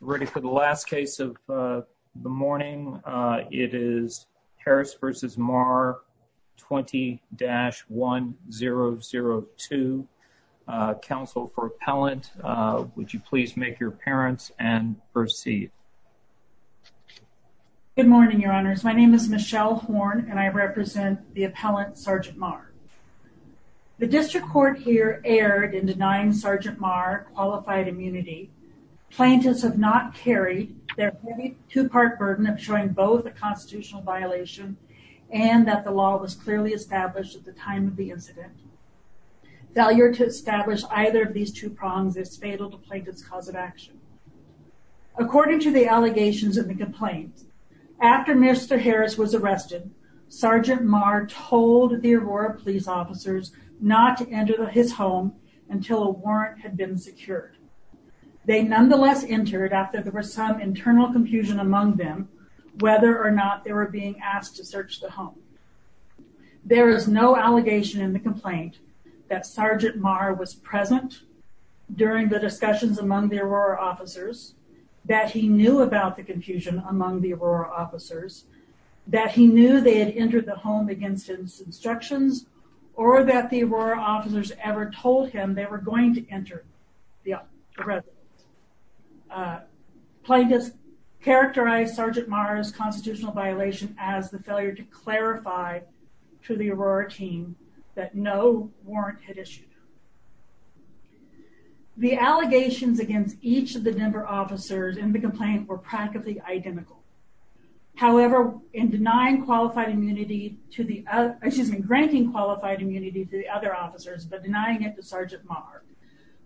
Ready for the last case of the morning. It is Harris v. Mahr, 20-1002. Council for Appellant, would you please make your appearance and proceed? Good morning, your honors. My name is Michelle Horn and I represent the Appellant, Sgt. Mahr. The district court here erred in denying Sgt. Mahr qualified immunity. Plaintiffs have not carried their heavy two-part burden of showing both a constitutional violation and that the law was clearly established at the time of the incident. Failure to establish either of these two prongs is fatal to plaintiffs' cause of action. According to the allegations and the complaints, after Mr. Harris was not to enter his home until a warrant had been secured. They nonetheless entered after there was some internal confusion among them whether or not they were being asked to search the home. There is no allegation in the complaint that Sgt. Mahr was present during the discussions among the Aurora officers, that he knew about the confusion among the Aurora officers, that he knew they had entered the home against his instructions, or that the Aurora officers ever told him they were going to enter the residence. Plaintiffs characterized Sgt. Mahr's constitutional violation as the failure to clarify to the Aurora team that no warrant had issued. The allegations against each of the Denver officers in the complaint were practically identical. However, in denying qualified immunity to the other officers, but denying it to Sgt. Mahr,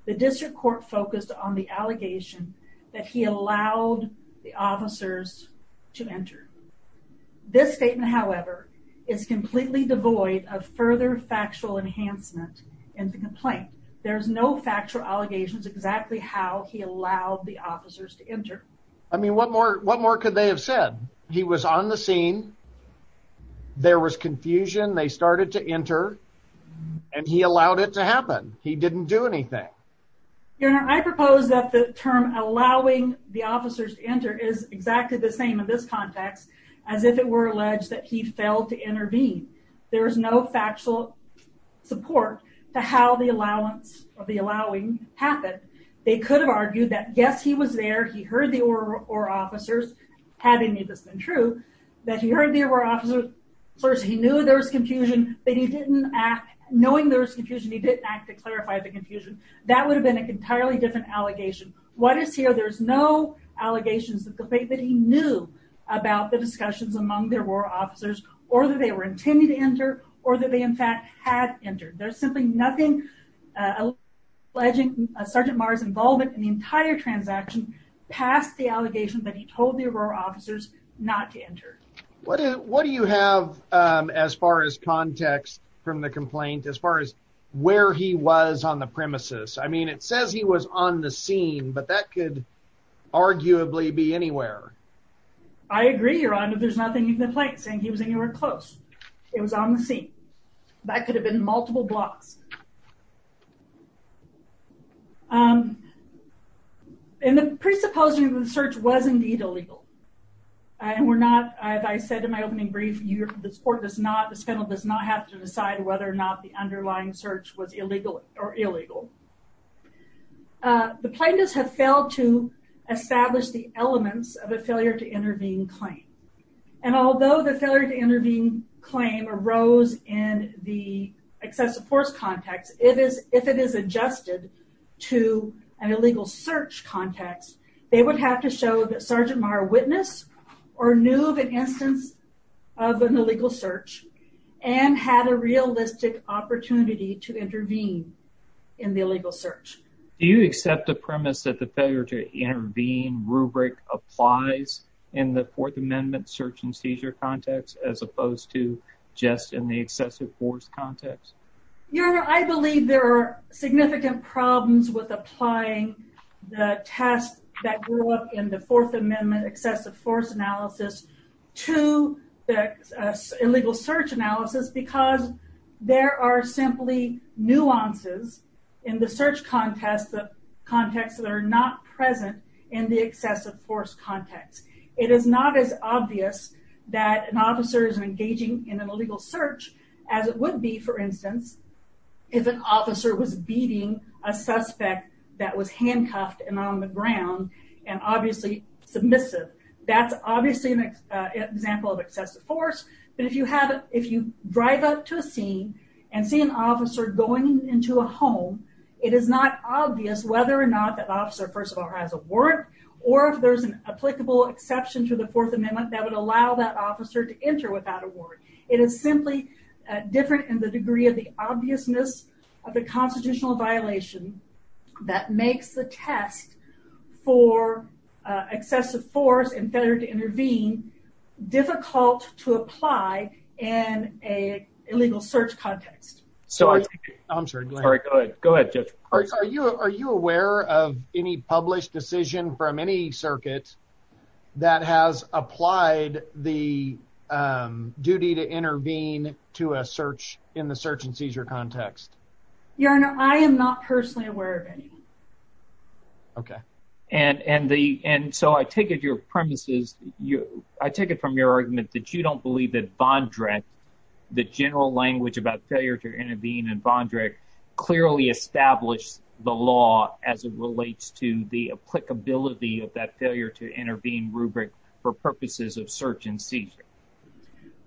the district court focused on the allegation that he allowed the officers to enter. This statement, however, is completely devoid of further factual enhancement in the complaint. There's no factual allegations exactly how he allowed the officers to enter. I mean, what more could they have said? He was on the scene, there was confusion, they started to enter, and he allowed it to happen. He didn't do anything. Your Honor, I propose that the term allowing the officers to enter is exactly the same in this context, as if it were alleged that he failed to intervene. There is no factual support to how the allowance of the allowing happened. They could have argued that, yes, he was there, he heard the Aurora officers, had any of this been true, that he heard the Aurora officers, he knew there was confusion, but he didn't act, knowing there was confusion, he didn't act to clarify the confusion. That would have been an entirely different allegation. What is here, there's no allegations that he knew about the discussions among the Aurora officers, or that they were intended to enter, or that they in fact had entered. There's simply nothing alleging Sgt. Mahr's involvement in the entire transaction past the allegation that he told the Aurora officers not to enter. What do you have as far as context from the complaint, as far as where he was on the premises? I mean, it says he was on the scene, but that could arguably be anywhere. I agree, Your Honor, there's nothing in the complaint saying he was anywhere close. It was on the scene. That in the presupposing the search was indeed illegal, and we're not, as I said in my opening brief, this court does not, this panel does not have to decide whether or not the underlying search was illegal or illegal. The plaintiffs have failed to establish the elements of a failure to intervene claim, and although the failure to intervene claim arose in the excessive force context, if it is adjusted to an illegal search context, they would have to show that Sgt. Mahr witnessed or knew of an instance of an illegal search, and had a realistic opportunity to intervene in the illegal search. Do you accept the premise that the failure to intervene rubric applies in the Fourth Amendment search and seizure context, as opposed to just in the excessive force context? Your Honor, I believe there are significant problems with applying the test that grew up in the Fourth Amendment excessive force analysis to the illegal search analysis, because there are simply nuances in the search context that are not present in the excessive force context. It is not as obvious that an officer is engaging in an illegal search as it would be, for instance, if an officer was beating a suspect that was handcuffed and on the ground, and obviously submissive. That's obviously an example of excessive force, but if you have, if you drive up to a scene and see an officer going into a home, it is not obvious whether or not that officer, first of all, has a warrant, or if there's an applicable exception to the Fourth Amendment that would allow that officer to enter without a warrant. It is simply different in the degree of the obviousness of the constitutional violation that makes the test for excessive force and failure to intervene difficult to apply in a illegal search context. I'm sorry, go ahead. Go ahead, Judge. Are you aware of any duty to intervene to a search in the search-and-seizure context? Your Honor, I am not personally aware of any. Okay. And so I take it your premises, you, I take it from your argument that you don't believe that Vondrick, the general language about failure to intervene in Vondrick, clearly established the law as it relates to the applicability of that failure to intervene rubric for purposes of search-and-seizure.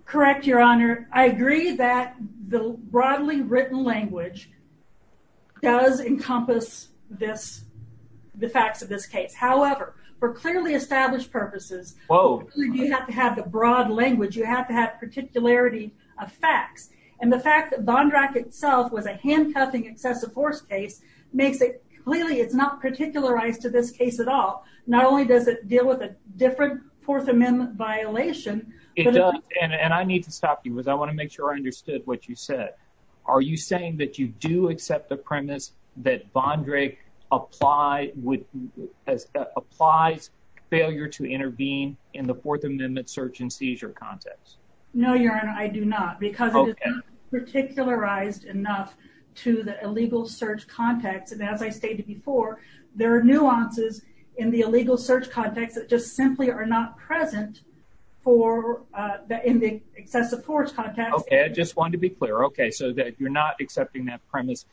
Correct, Your Honor. I agree that the broadly written language does encompass this, the facts of this case. However, for clearly established purposes, you have to have the broad language, you have to have particularity of facts, and the fact that Vondrick itself was a handcuffing excessive force case makes it clearly, it's not particularized to this case at all. Not only does it deal with a different Fourth Amendment violation. It does, and I need to stop you because I want to make sure I understood what you said. Are you saying that you do accept the premise that Vondrick apply, would, applies failure to intervene in the Fourth Amendment search-and-seizure context? No, Your Honor, I do not because it is not particularized enough to the in the illegal search context that just simply are not present for, in the excessive force context. Okay, I just wanted to be clear. Okay, so that you're not accepting that premise.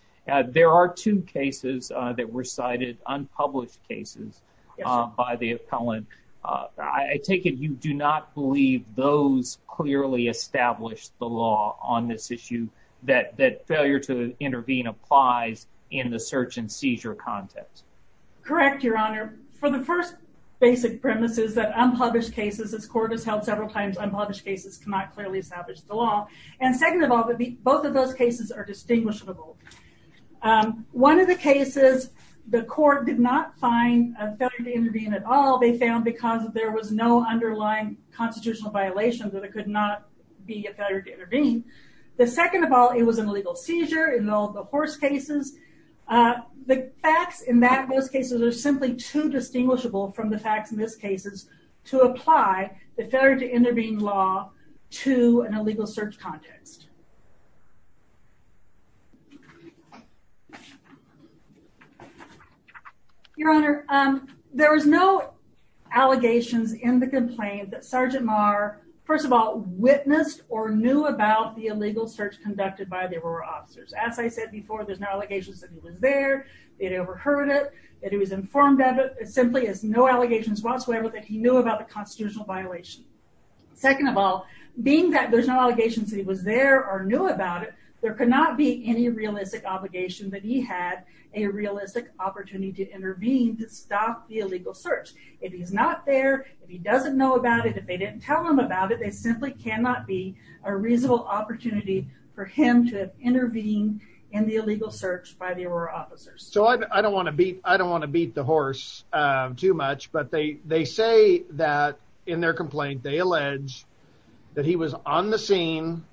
There are two cases that were cited, unpublished cases, by the appellant. I take it you do not believe those clearly established the law on this issue that that failure to intervene applies in the search-and- The first basic premise is that unpublished cases, as court has held several times, unpublished cases cannot clearly establish the law. And second of all, both of those cases are distinguishable. One of the cases, the court did not find a failure to intervene at all. They found because there was no underlying constitutional violation that it could not be a failure to intervene. The second of all, it was an illegal seizure in all the horse cases. The facts in that most cases are simply too distinguishable from the facts in this cases to apply the failure to intervene law to an illegal search context. Your Honor, there was no allegations in the complaint that Sergeant Maher, first of all, witnessed or knew about the illegal search conducted by the Aurora officers. As I said before, there's no allegations that he was there, they'd overheard it, that he was informed of it, simply as no allegations whatsoever that he knew about the constitutional violation. Second of all, being that there's no allegations that he was there or knew about it, there could not be any realistic obligation that he had a realistic opportunity to intervene to stop the illegal search. If he's not there, if he doesn't know about it, if they didn't tell him about it, they simply cannot be a reasonable opportunity for him to intervene in the illegal search by the Aurora officers. So I don't want to beat the horse too much, but they say that in their complaint they allege that he was on the scene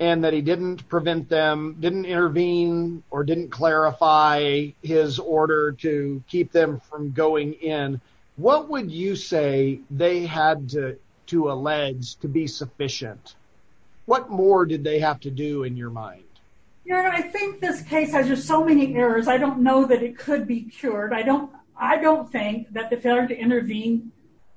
and that he didn't prevent them, didn't intervene, or didn't clarify his order to keep them from What more did they have to do in your mind? I think this case has just so many errors, I don't know that it could be cured. I don't think that the failure to intervene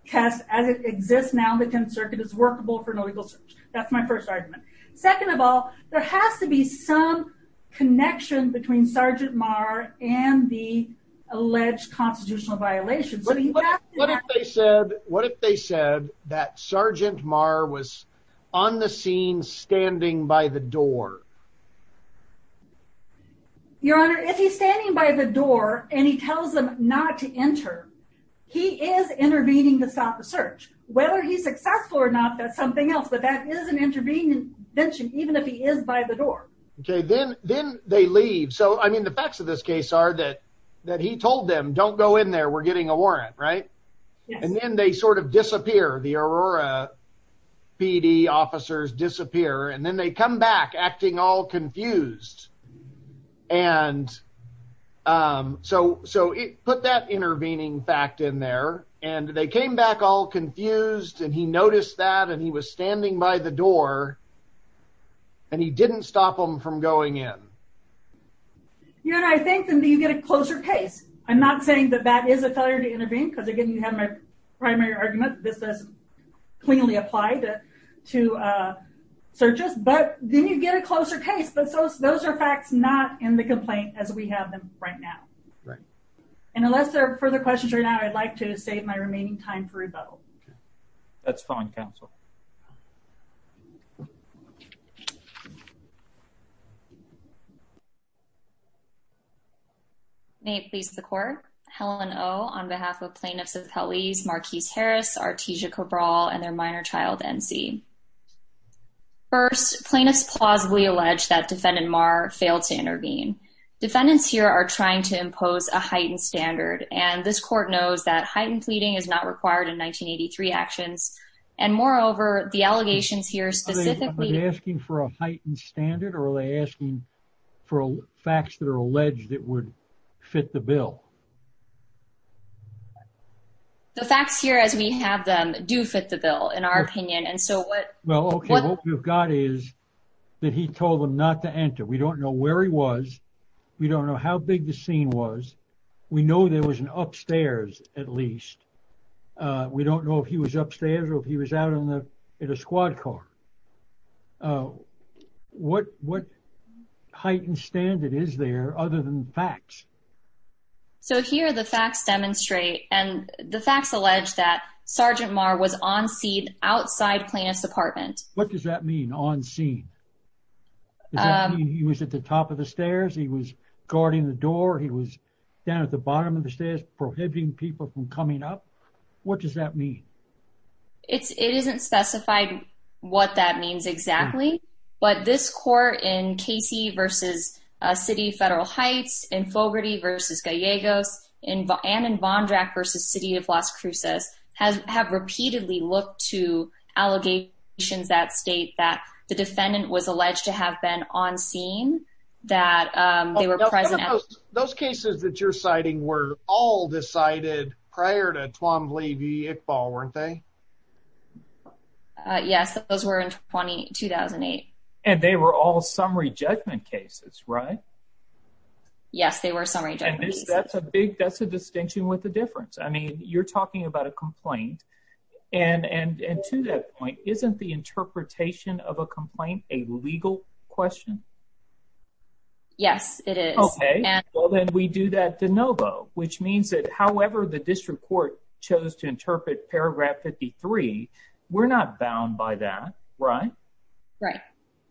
test as it exists now in the 10th Circuit is workable for an illegal search. That's my first argument. Second of all, there has to be some connection between Sergeant Maher and the alleged constitutional violation. What if they said that Sergeant Maher was on the scene standing by the door? Your Honor, if he's standing by the door and he tells them not to enter, he is intervening to stop the search. Whether he's successful or not, that's something else, but that is an intervening intervention, even if he is by the door. Okay, then they leave. So, I mean, the facts of this case are that he told them, don't go in there, we're getting a warrant, right? And then they sort of disappear. The Aurora PD officers disappear, and then they come back acting all confused. And so he put that intervening fact in there, and they came back all confused, and he noticed that, and he was standing by the door, and he didn't stop them from going in. Your Honor, I think then you get a closer case. I'm not saying that that is a failure to intervene, because again, you have my primary argument, this does cleanly apply to searches, but then you get a closer case. But those are facts not in the complaint as we have them right now. And unless there are further questions right now, I'd like to save my remaining time for rebuttal. That's fine, counsel. May it please the court. Helen Oh, on behalf of plaintiffs of Helize, Marquise Harris, Artesia Cabral, and their minor child, N.C. First, plaintiffs plausibly allege that defendant Marr failed to intervene. Defendants here are trying to impose a heightened standard, and this court knows that heightened pleading is not required in 1983 actions. And moreover, the allegations here asking for a heightened standard, or are they asking for facts that are alleged that would fit the bill? The facts here as we have them do fit the bill, in our opinion. And so what? Well, okay, what we've got is that he told them not to enter. We don't know where he was. We don't know how big the scene was. We know there was an upstairs, at least. We don't know if he was upstairs or if he was out on the at a squad car. Oh, what? What heightened standard is there other than facts? So here the facts demonstrate and the facts allege that Sergeant Marr was on scene outside plaintiff's apartment. What does that mean? On scene? He was at the top of the stairs. He was guarding the door. He was down at the bottom of the stairs, prohibiting people from coming up. What does that mean? It's it isn't specified what that means exactly. But this court in Casey versus City Federal Heights in Fogarty versus Gallegos in and in Bond rack versus city of Las Cruces has have repeatedly looked to allegations that state that the defendant was alleged to have been on scene that they were present. Those cases that you're citing were all decided prior to Twombly be a fall, weren't they? Yes, those were in 22,008. And they were all summary judgment cases, right? Yes, they were summary. That's a big. That's a distinction with the difference. I mean, you're talking about a complaint and and to that point, isn't the interpretation of a complaint a legal question? Yes, it is. Okay, well, then we do that de novo, which means that, however, the district court chose to interpret paragraph 53. We're not bound by that, right? Right.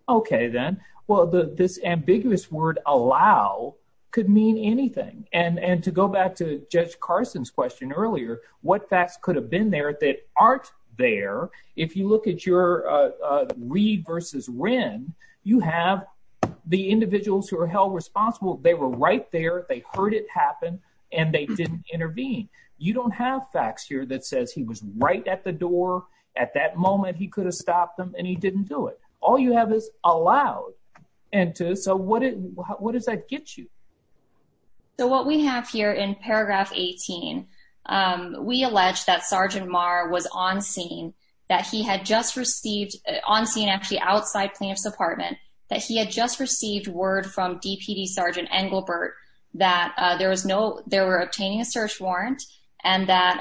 Okay, then. Well, the this ambiguous word allow could mean anything. And and to go back to Judge Carson's question earlier, what facts could have been there that aren't there. If you look at your read versus Wren, you have the individuals who are held responsible. They were right there. They heard it happen, and they didn't intervene. You don't have facts here that says he was right at the door at that moment. He could have stopped them, and he didn't do it. All you have is allowed. And so what? What does that get you? So what we have here in paragraph 18, we allege that Sergeant Maher was on scene that he had just received on scene, actually outside plaintiff's just received word from DPD Sergeant Engelbert that there was no there were obtaining a search warrant and that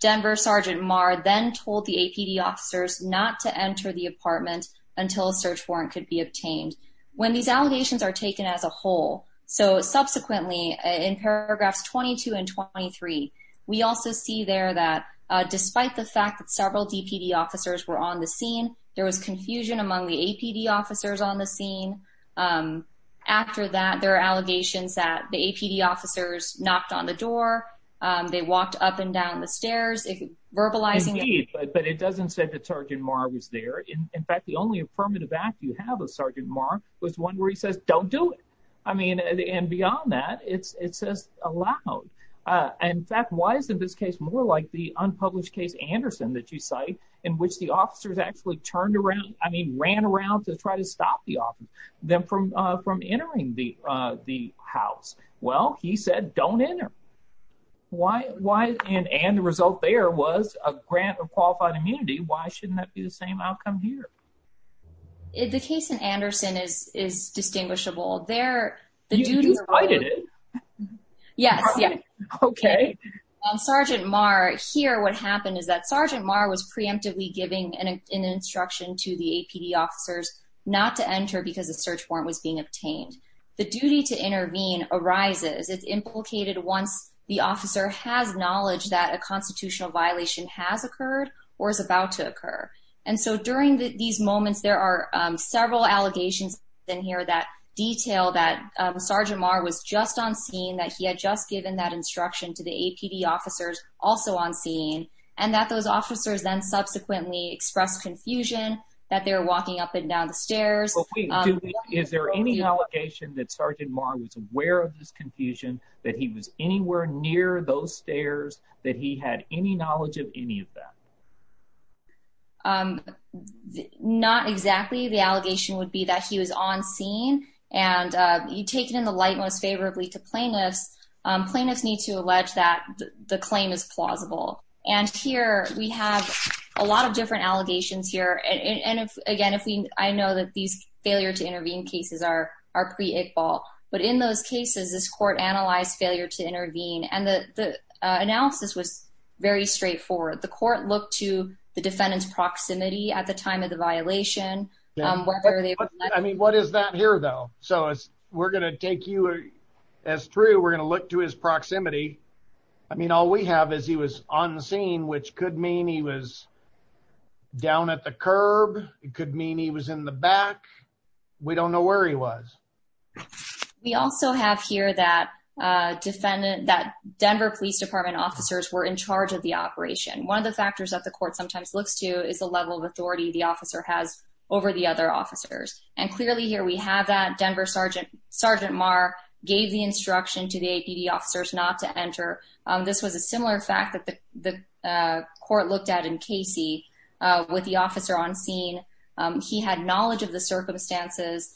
Denver Sergeant Maher then told the APD officers not to enter the apartment until search warrant could be obtained when these allegations are taken as a whole. So subsequently, in paragraphs 22 and 23, we also see there that despite the fact that several DPD officers were on the scene, there was confusion among the APD officers on the scene. Um, after that, there are allegations that the APD officers knocked on the door. They walked up and down the stairs, verbalizing. But it doesn't say that Sergeant Maher was there. In fact, the only affirmative act you have of Sergeant Maher was one where he says, Don't do it. I mean, and beyond that, it's it says allowed. In fact, why isn't this case more like the unpublished case Anderson that you cite in which the officers actually turned around? I mean, ran around to try to stop the office them from from entering the house. Well, he said, Don't enter. Why? Why? And the result there was a grant of qualified immunity. Why shouldn't that be the same outcome here? The case in Anderson is is distinguishable there. The duty cited it. Yes. Okay. Sergeant Maher here. What happened is that Sergeant Maher was preemptively giving an instruction to the APD officers not to enter because the search warrant was being obtained. The duty to intervene arises. It's implicated once the officer has knowledge that a constitutional violation has occurred or is about to occur. And so during these moments, there are several allegations in here that detail that Sergeant Maher was just on scene that he had just given that instruction to the APD officers also on scene and that those officers then subsequently expressed confusion that they're walking up and down the stairs. Is there any allegation that Sergeant Maher was aware of this confusion that he was anywhere near those stairs that he had any knowledge of any of them? Um, not exactly. The allegation would be that he was on scene and you take it in the light most favorably to plaintiffs. Plaintiffs need to allege that the claim is plausible. And here we have a lot of different allegations here. And again, if I know that these failure to intervene cases are are pre equal. But in those cases, this court analyzed failure to intervene, and the analysis was very straightforward. The court looked to the defendant's proximity at the time of the violation. Um, whether they I mean, what is that here, though? So we're gonna take you as true. We're gonna look to his proximity. I mean, all we have is he was on the scene, which could mean he was down at the curb. It could mean he was in the back. We don't know where he was. We also have here that defendant that Denver Police Department officers were in charge of the operation. One of the factors that the court sometimes looks to is the level of authority the officer has over the other officers. And clearly here we have that Denver Sergeant Sergeant Maher gave the direction to the officers not to enter. This was a similar fact that the court looked at in Casey with the officer on scene. He had knowledge of the circumstances.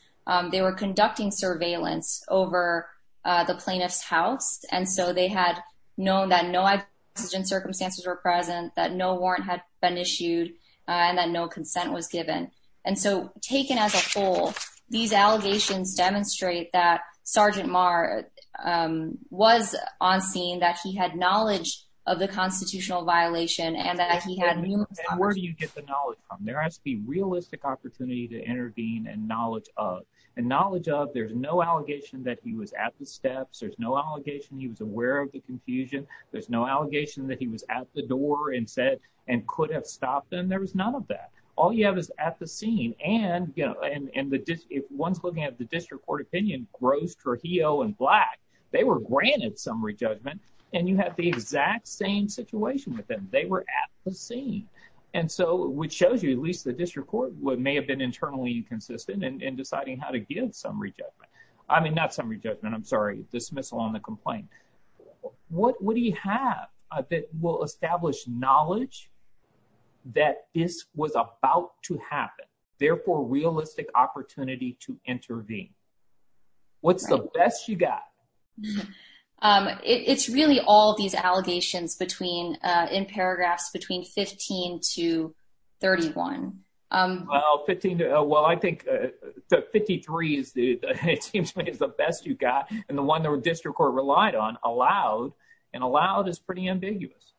They were conducting surveillance over the plaintiff's house, and so they had known that no oxygen circumstances were present, that no warrant had been issued on that. No consent was given. And so taken as a whole, these allegations demonstrate that Sergeant Maher, um, was on scene, that he had knowledge of the constitutional violation and that he had. Where do you get the knowledge from? There has to be realistic opportunity to intervene and knowledge of and knowledge of. There's no allegation that he was at the steps. There's no allegation. He was aware of the confusion. There's no allegation that he was at the door and said and could have stopped them. There was none of that. All you have is at the scene and, you know, and and the one's looking at the district court opinion gross, Trujillo and black. They were granted summary judgment, and you have the exact same situation with them. They were at the scene. And so which shows you at least the district court would may have been internally inconsistent and deciding how to give summary judgment. I mean, not summary judgment. I'm sorry. Dismissal on the complaint. What would he have that will establish knowledge that this was about to happen? Therefore, realistic opportunity to intervene. What's the best you got? Um, it's really all these allegations between, uh, in paragraphs between 15 to 31. Um, well, 15. Well, I think, uh, 53 is it seems like it's the best you got. And the one that were district court relied on allowed and allowed is pretty ambiguous.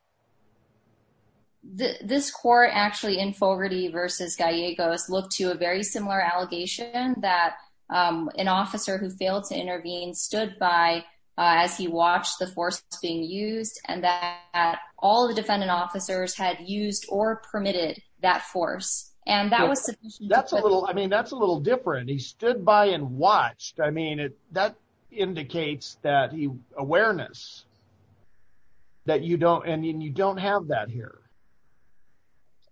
This court actually in Fogarty versus Gallegos looked to a very similar allegation that, um, an officer who failed to intervene stood by as he watched the force being used and that all the defendant officers had used or permitted that force. And that was that's a little I mean, that's a little different. He stood by and watched. I mean, that indicates that he awareness that you don't. And you don't have that here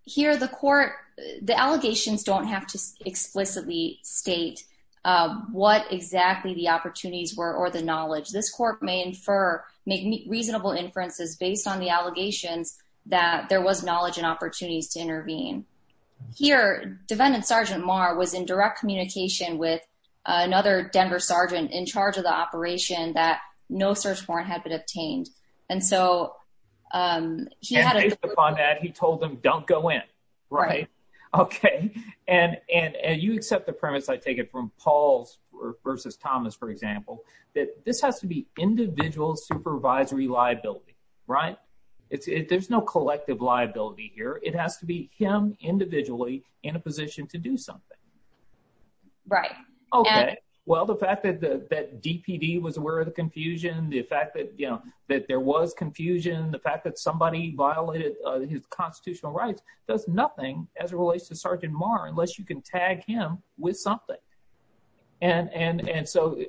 here. The court. The allegations don't have to explicitly state what exactly the opportunities were or the knowledge this court may infer make reasonable inferences based on the allegations that there was knowledge and opportunities to intervene here. Defendant Sergeant Mar was in direct communication with another Denver sergeant in charge of the operation that no search warrant had been obtained. And so, um, she had upon that he told him, Don't go in. Right. Okay. And you accept the premise. I take it from Paul's versus Thomas, for example, that this has to be individual supervisory liability, right? There's no collective liability here. It has to be him individually in a position to do something. Right. Okay. Well, the fact that that DPD was aware of the confusion, the fact that you know that there was confusion, the fact that somebody violated his constitutional rights does nothing as it relates to Sergeant Mar unless you can tag him with something. And and and so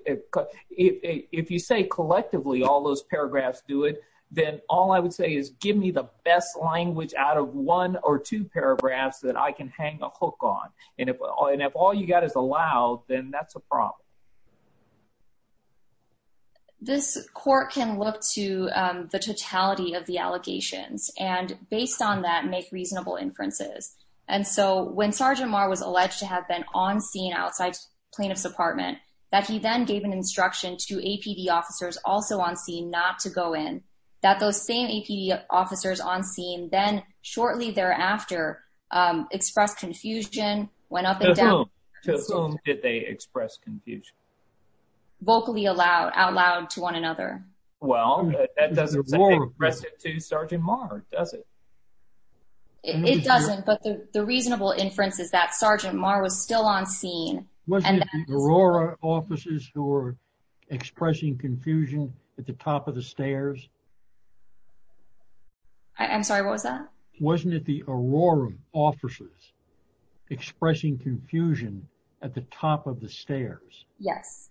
if you say collectively all those paragraphs do it, then all I would say is give me the best language out of one or two paragraphs that I can hang a hook on. And if all you got is allowed, then that's a problem. This court can look to the totality of the allegations and based on that make reasonable inferences. And so when Sergeant Mar was alleged to have been on scene outside plaintiff's apartment that he then gave an instruction to APD officers also on scene not to go in that those same APD officers on scene then shortly thereafter expressed confusion, went up and down. To whom did they express confusion? Vocally aloud, out loud to one another. Well, that doesn't express it to Sergeant Mar, does it? It doesn't. But the reasonable inference is that Sergeant Mar was still on scene. Wasn't it the Aurora officers who were expressing confusion at the top of the stairs? I'm sorry, what was that? Wasn't it the Aurora officers expressing confusion at the top of the stairs? Yes.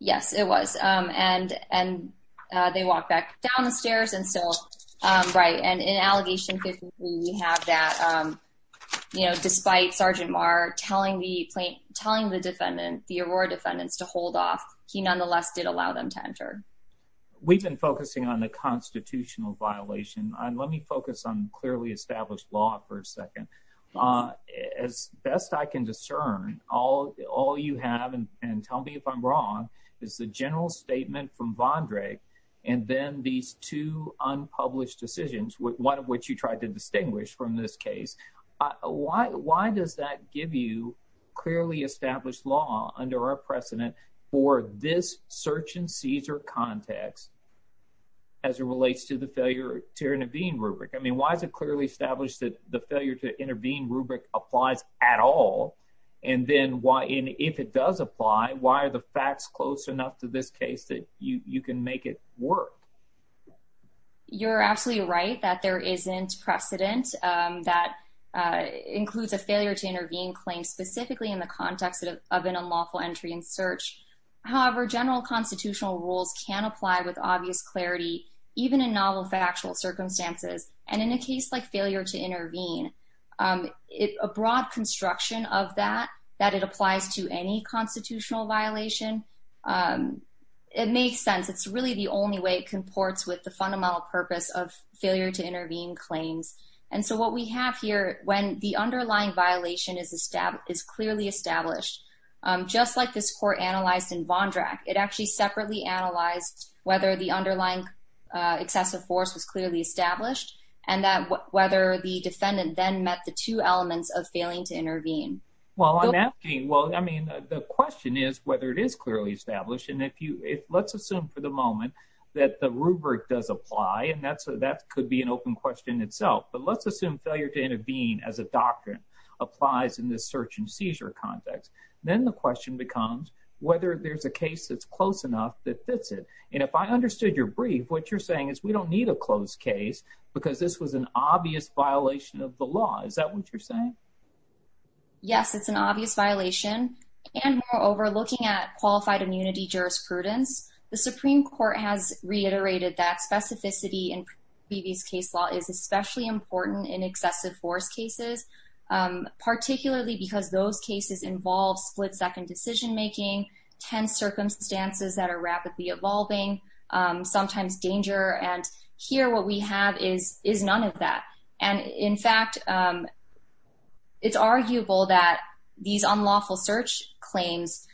Yes, it was. And and they walked back down the stairs and still. Right. And in allegation 53, we have that, you know, despite Sergeant Mar telling the plaintiff, telling the defendant, the Aurora defendants to hold off, he nonetheless did allow them to enter. We've been focusing on the constitutional violation. Let me focus on clearly established law for a second. As best I can discern, all all you have, and tell me if I'm wrong, is the general statement from Von Drake, and then these two unpublished decisions, one of which you tried to distinguish from this case. Why does that give you clearly established law under our precedent for this search and seizure context as it relates to the failure to intervene rubric? I mean, why is it clearly established that the failure to intervene rubric applies at all? And then why? And if it does apply, why are the facts close enough to this case that you can make it work? You're absolutely right that there isn't precedent that includes a failure to intervene claim specifically in the context of an unlawful entry in search. However, general constitutional rules can apply with obvious clarity, even in novel factual circumstances. And in a case like failure to intervene, a broad construction of that, that it applies to any constitutional violation, it makes sense. It's really the only way it comports with the fundamental purpose of failure to intervene claims. And so what we have here, when the underlying excessive force was clearly established, and that whether the defendant then met the two elements of failing to intervene. Well, I'm asking, well, I mean, the question is whether it is clearly established. And if you if let's assume for the moment that the rubric does apply, and that's that could be an open question itself. But let's assume failure to intervene as a doctrine applies in this search and seizure context, then the question becomes whether there's a case that's close enough that fits it. And if I understood your brief, what you're saying is we don't need a closed case, because this was an obvious violation of the law. Is that what you're saying? Yes, it's an obvious violation. And we're overlooking at qualified immunity jurisprudence. The Supreme Court has reiterated that specificity in previous case law is especially important in excessive force cases, particularly because those cases involve split second decision making 10 circumstances that are rapidly evolving, sometimes danger. And here, what we have is is none of that. And in fact, it's arguable that these unlawful search claims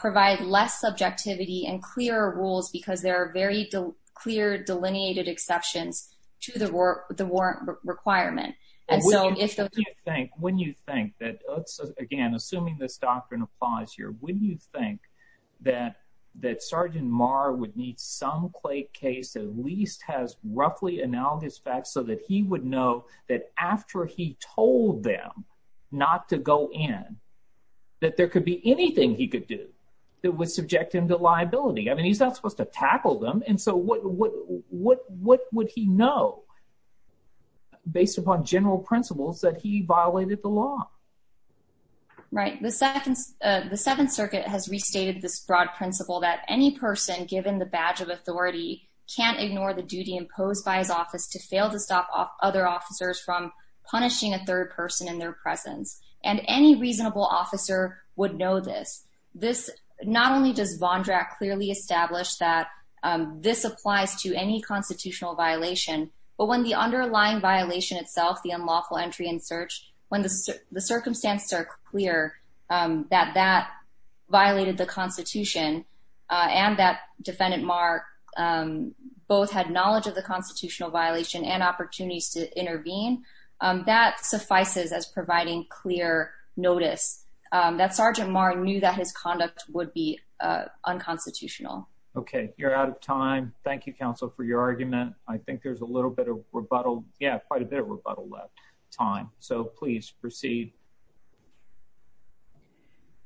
provide less subjectivity and clear rules because there are very clear delineated exceptions to the war, the warrant requirement. And so if you think when you think that again, assuming this doctrine applies here, wouldn't you think that that Sergeant Maher would need some clay case at least has roughly analogous facts so that he would know that after he told them not to go in, that there could be anything he could do that would subject him to liability. I mean, he's not supposed to tackle them. And so what what what what would he know based upon general principles that he violated the law? Right. The second, the Seventh Circuit has restated this broad principle that any person given the badge of authority can't ignore the duty imposed by his office to fail to stop other officers from punishing a third person in their presence. And any reasonable officer would know this. This not only does Von Drack clearly established that this applies to any constitutional violation, but when the underlying violation itself, the unlawful entry in search, when the circumstances are clear that that violated the Constitution on that defendant mark, um, both had knowledge of the constitutional violation and opportunities to intervene. Um, that suffices as providing clear notice that Sergeant Maher knew that his conduct would be unconstitutional. Okay, you're out of time. Thank you, Counsel, for your argument. I think there's a little bit of rebuttal. Yeah, quite a bit of rebuttal left time. So please proceed.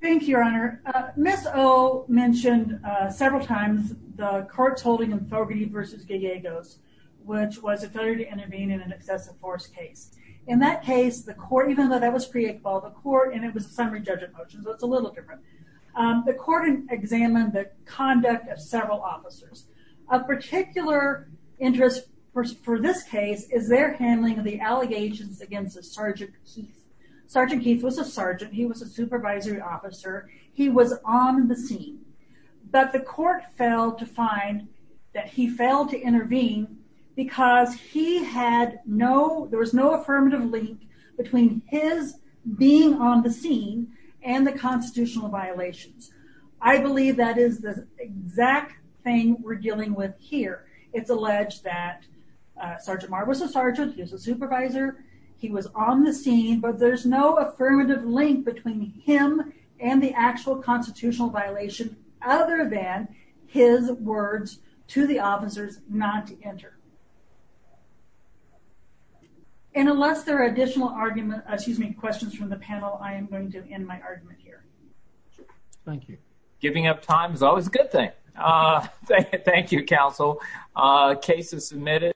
Thank you, Your Honor. Miss O mentioned several times the court's holding in Fogarty versus Gallegos, which was a failure to intervene in an excessive force case. In that case, the court, even though that was created by the court, and it was a summary judge of motions, it's a little different. Um, the court examined the conduct of several officers. Of particular interest for this case is their handling of the allegations against the Sergeant Keith. Sergeant Keith was a sergeant. He was a supervisory officer. He was on the scene, but the court failed to find that he failed to intervene because he had no, there was no affirmative link between his being on the scene and the I believe that is the exact thing we're dealing with here. It's alleged that Sergeant Marr was a sergeant. He was a supervisor. He was on the scene, but there's no affirmative link between him and the actual constitutional violation other than his words to the officers not to enter. And unless there are additional arguments, excuse me, questions from the panel, I am going to end my argument here. Thank you. Giving up time is always a good thing. Uh, thank you, counsel. Uh, cases submitted.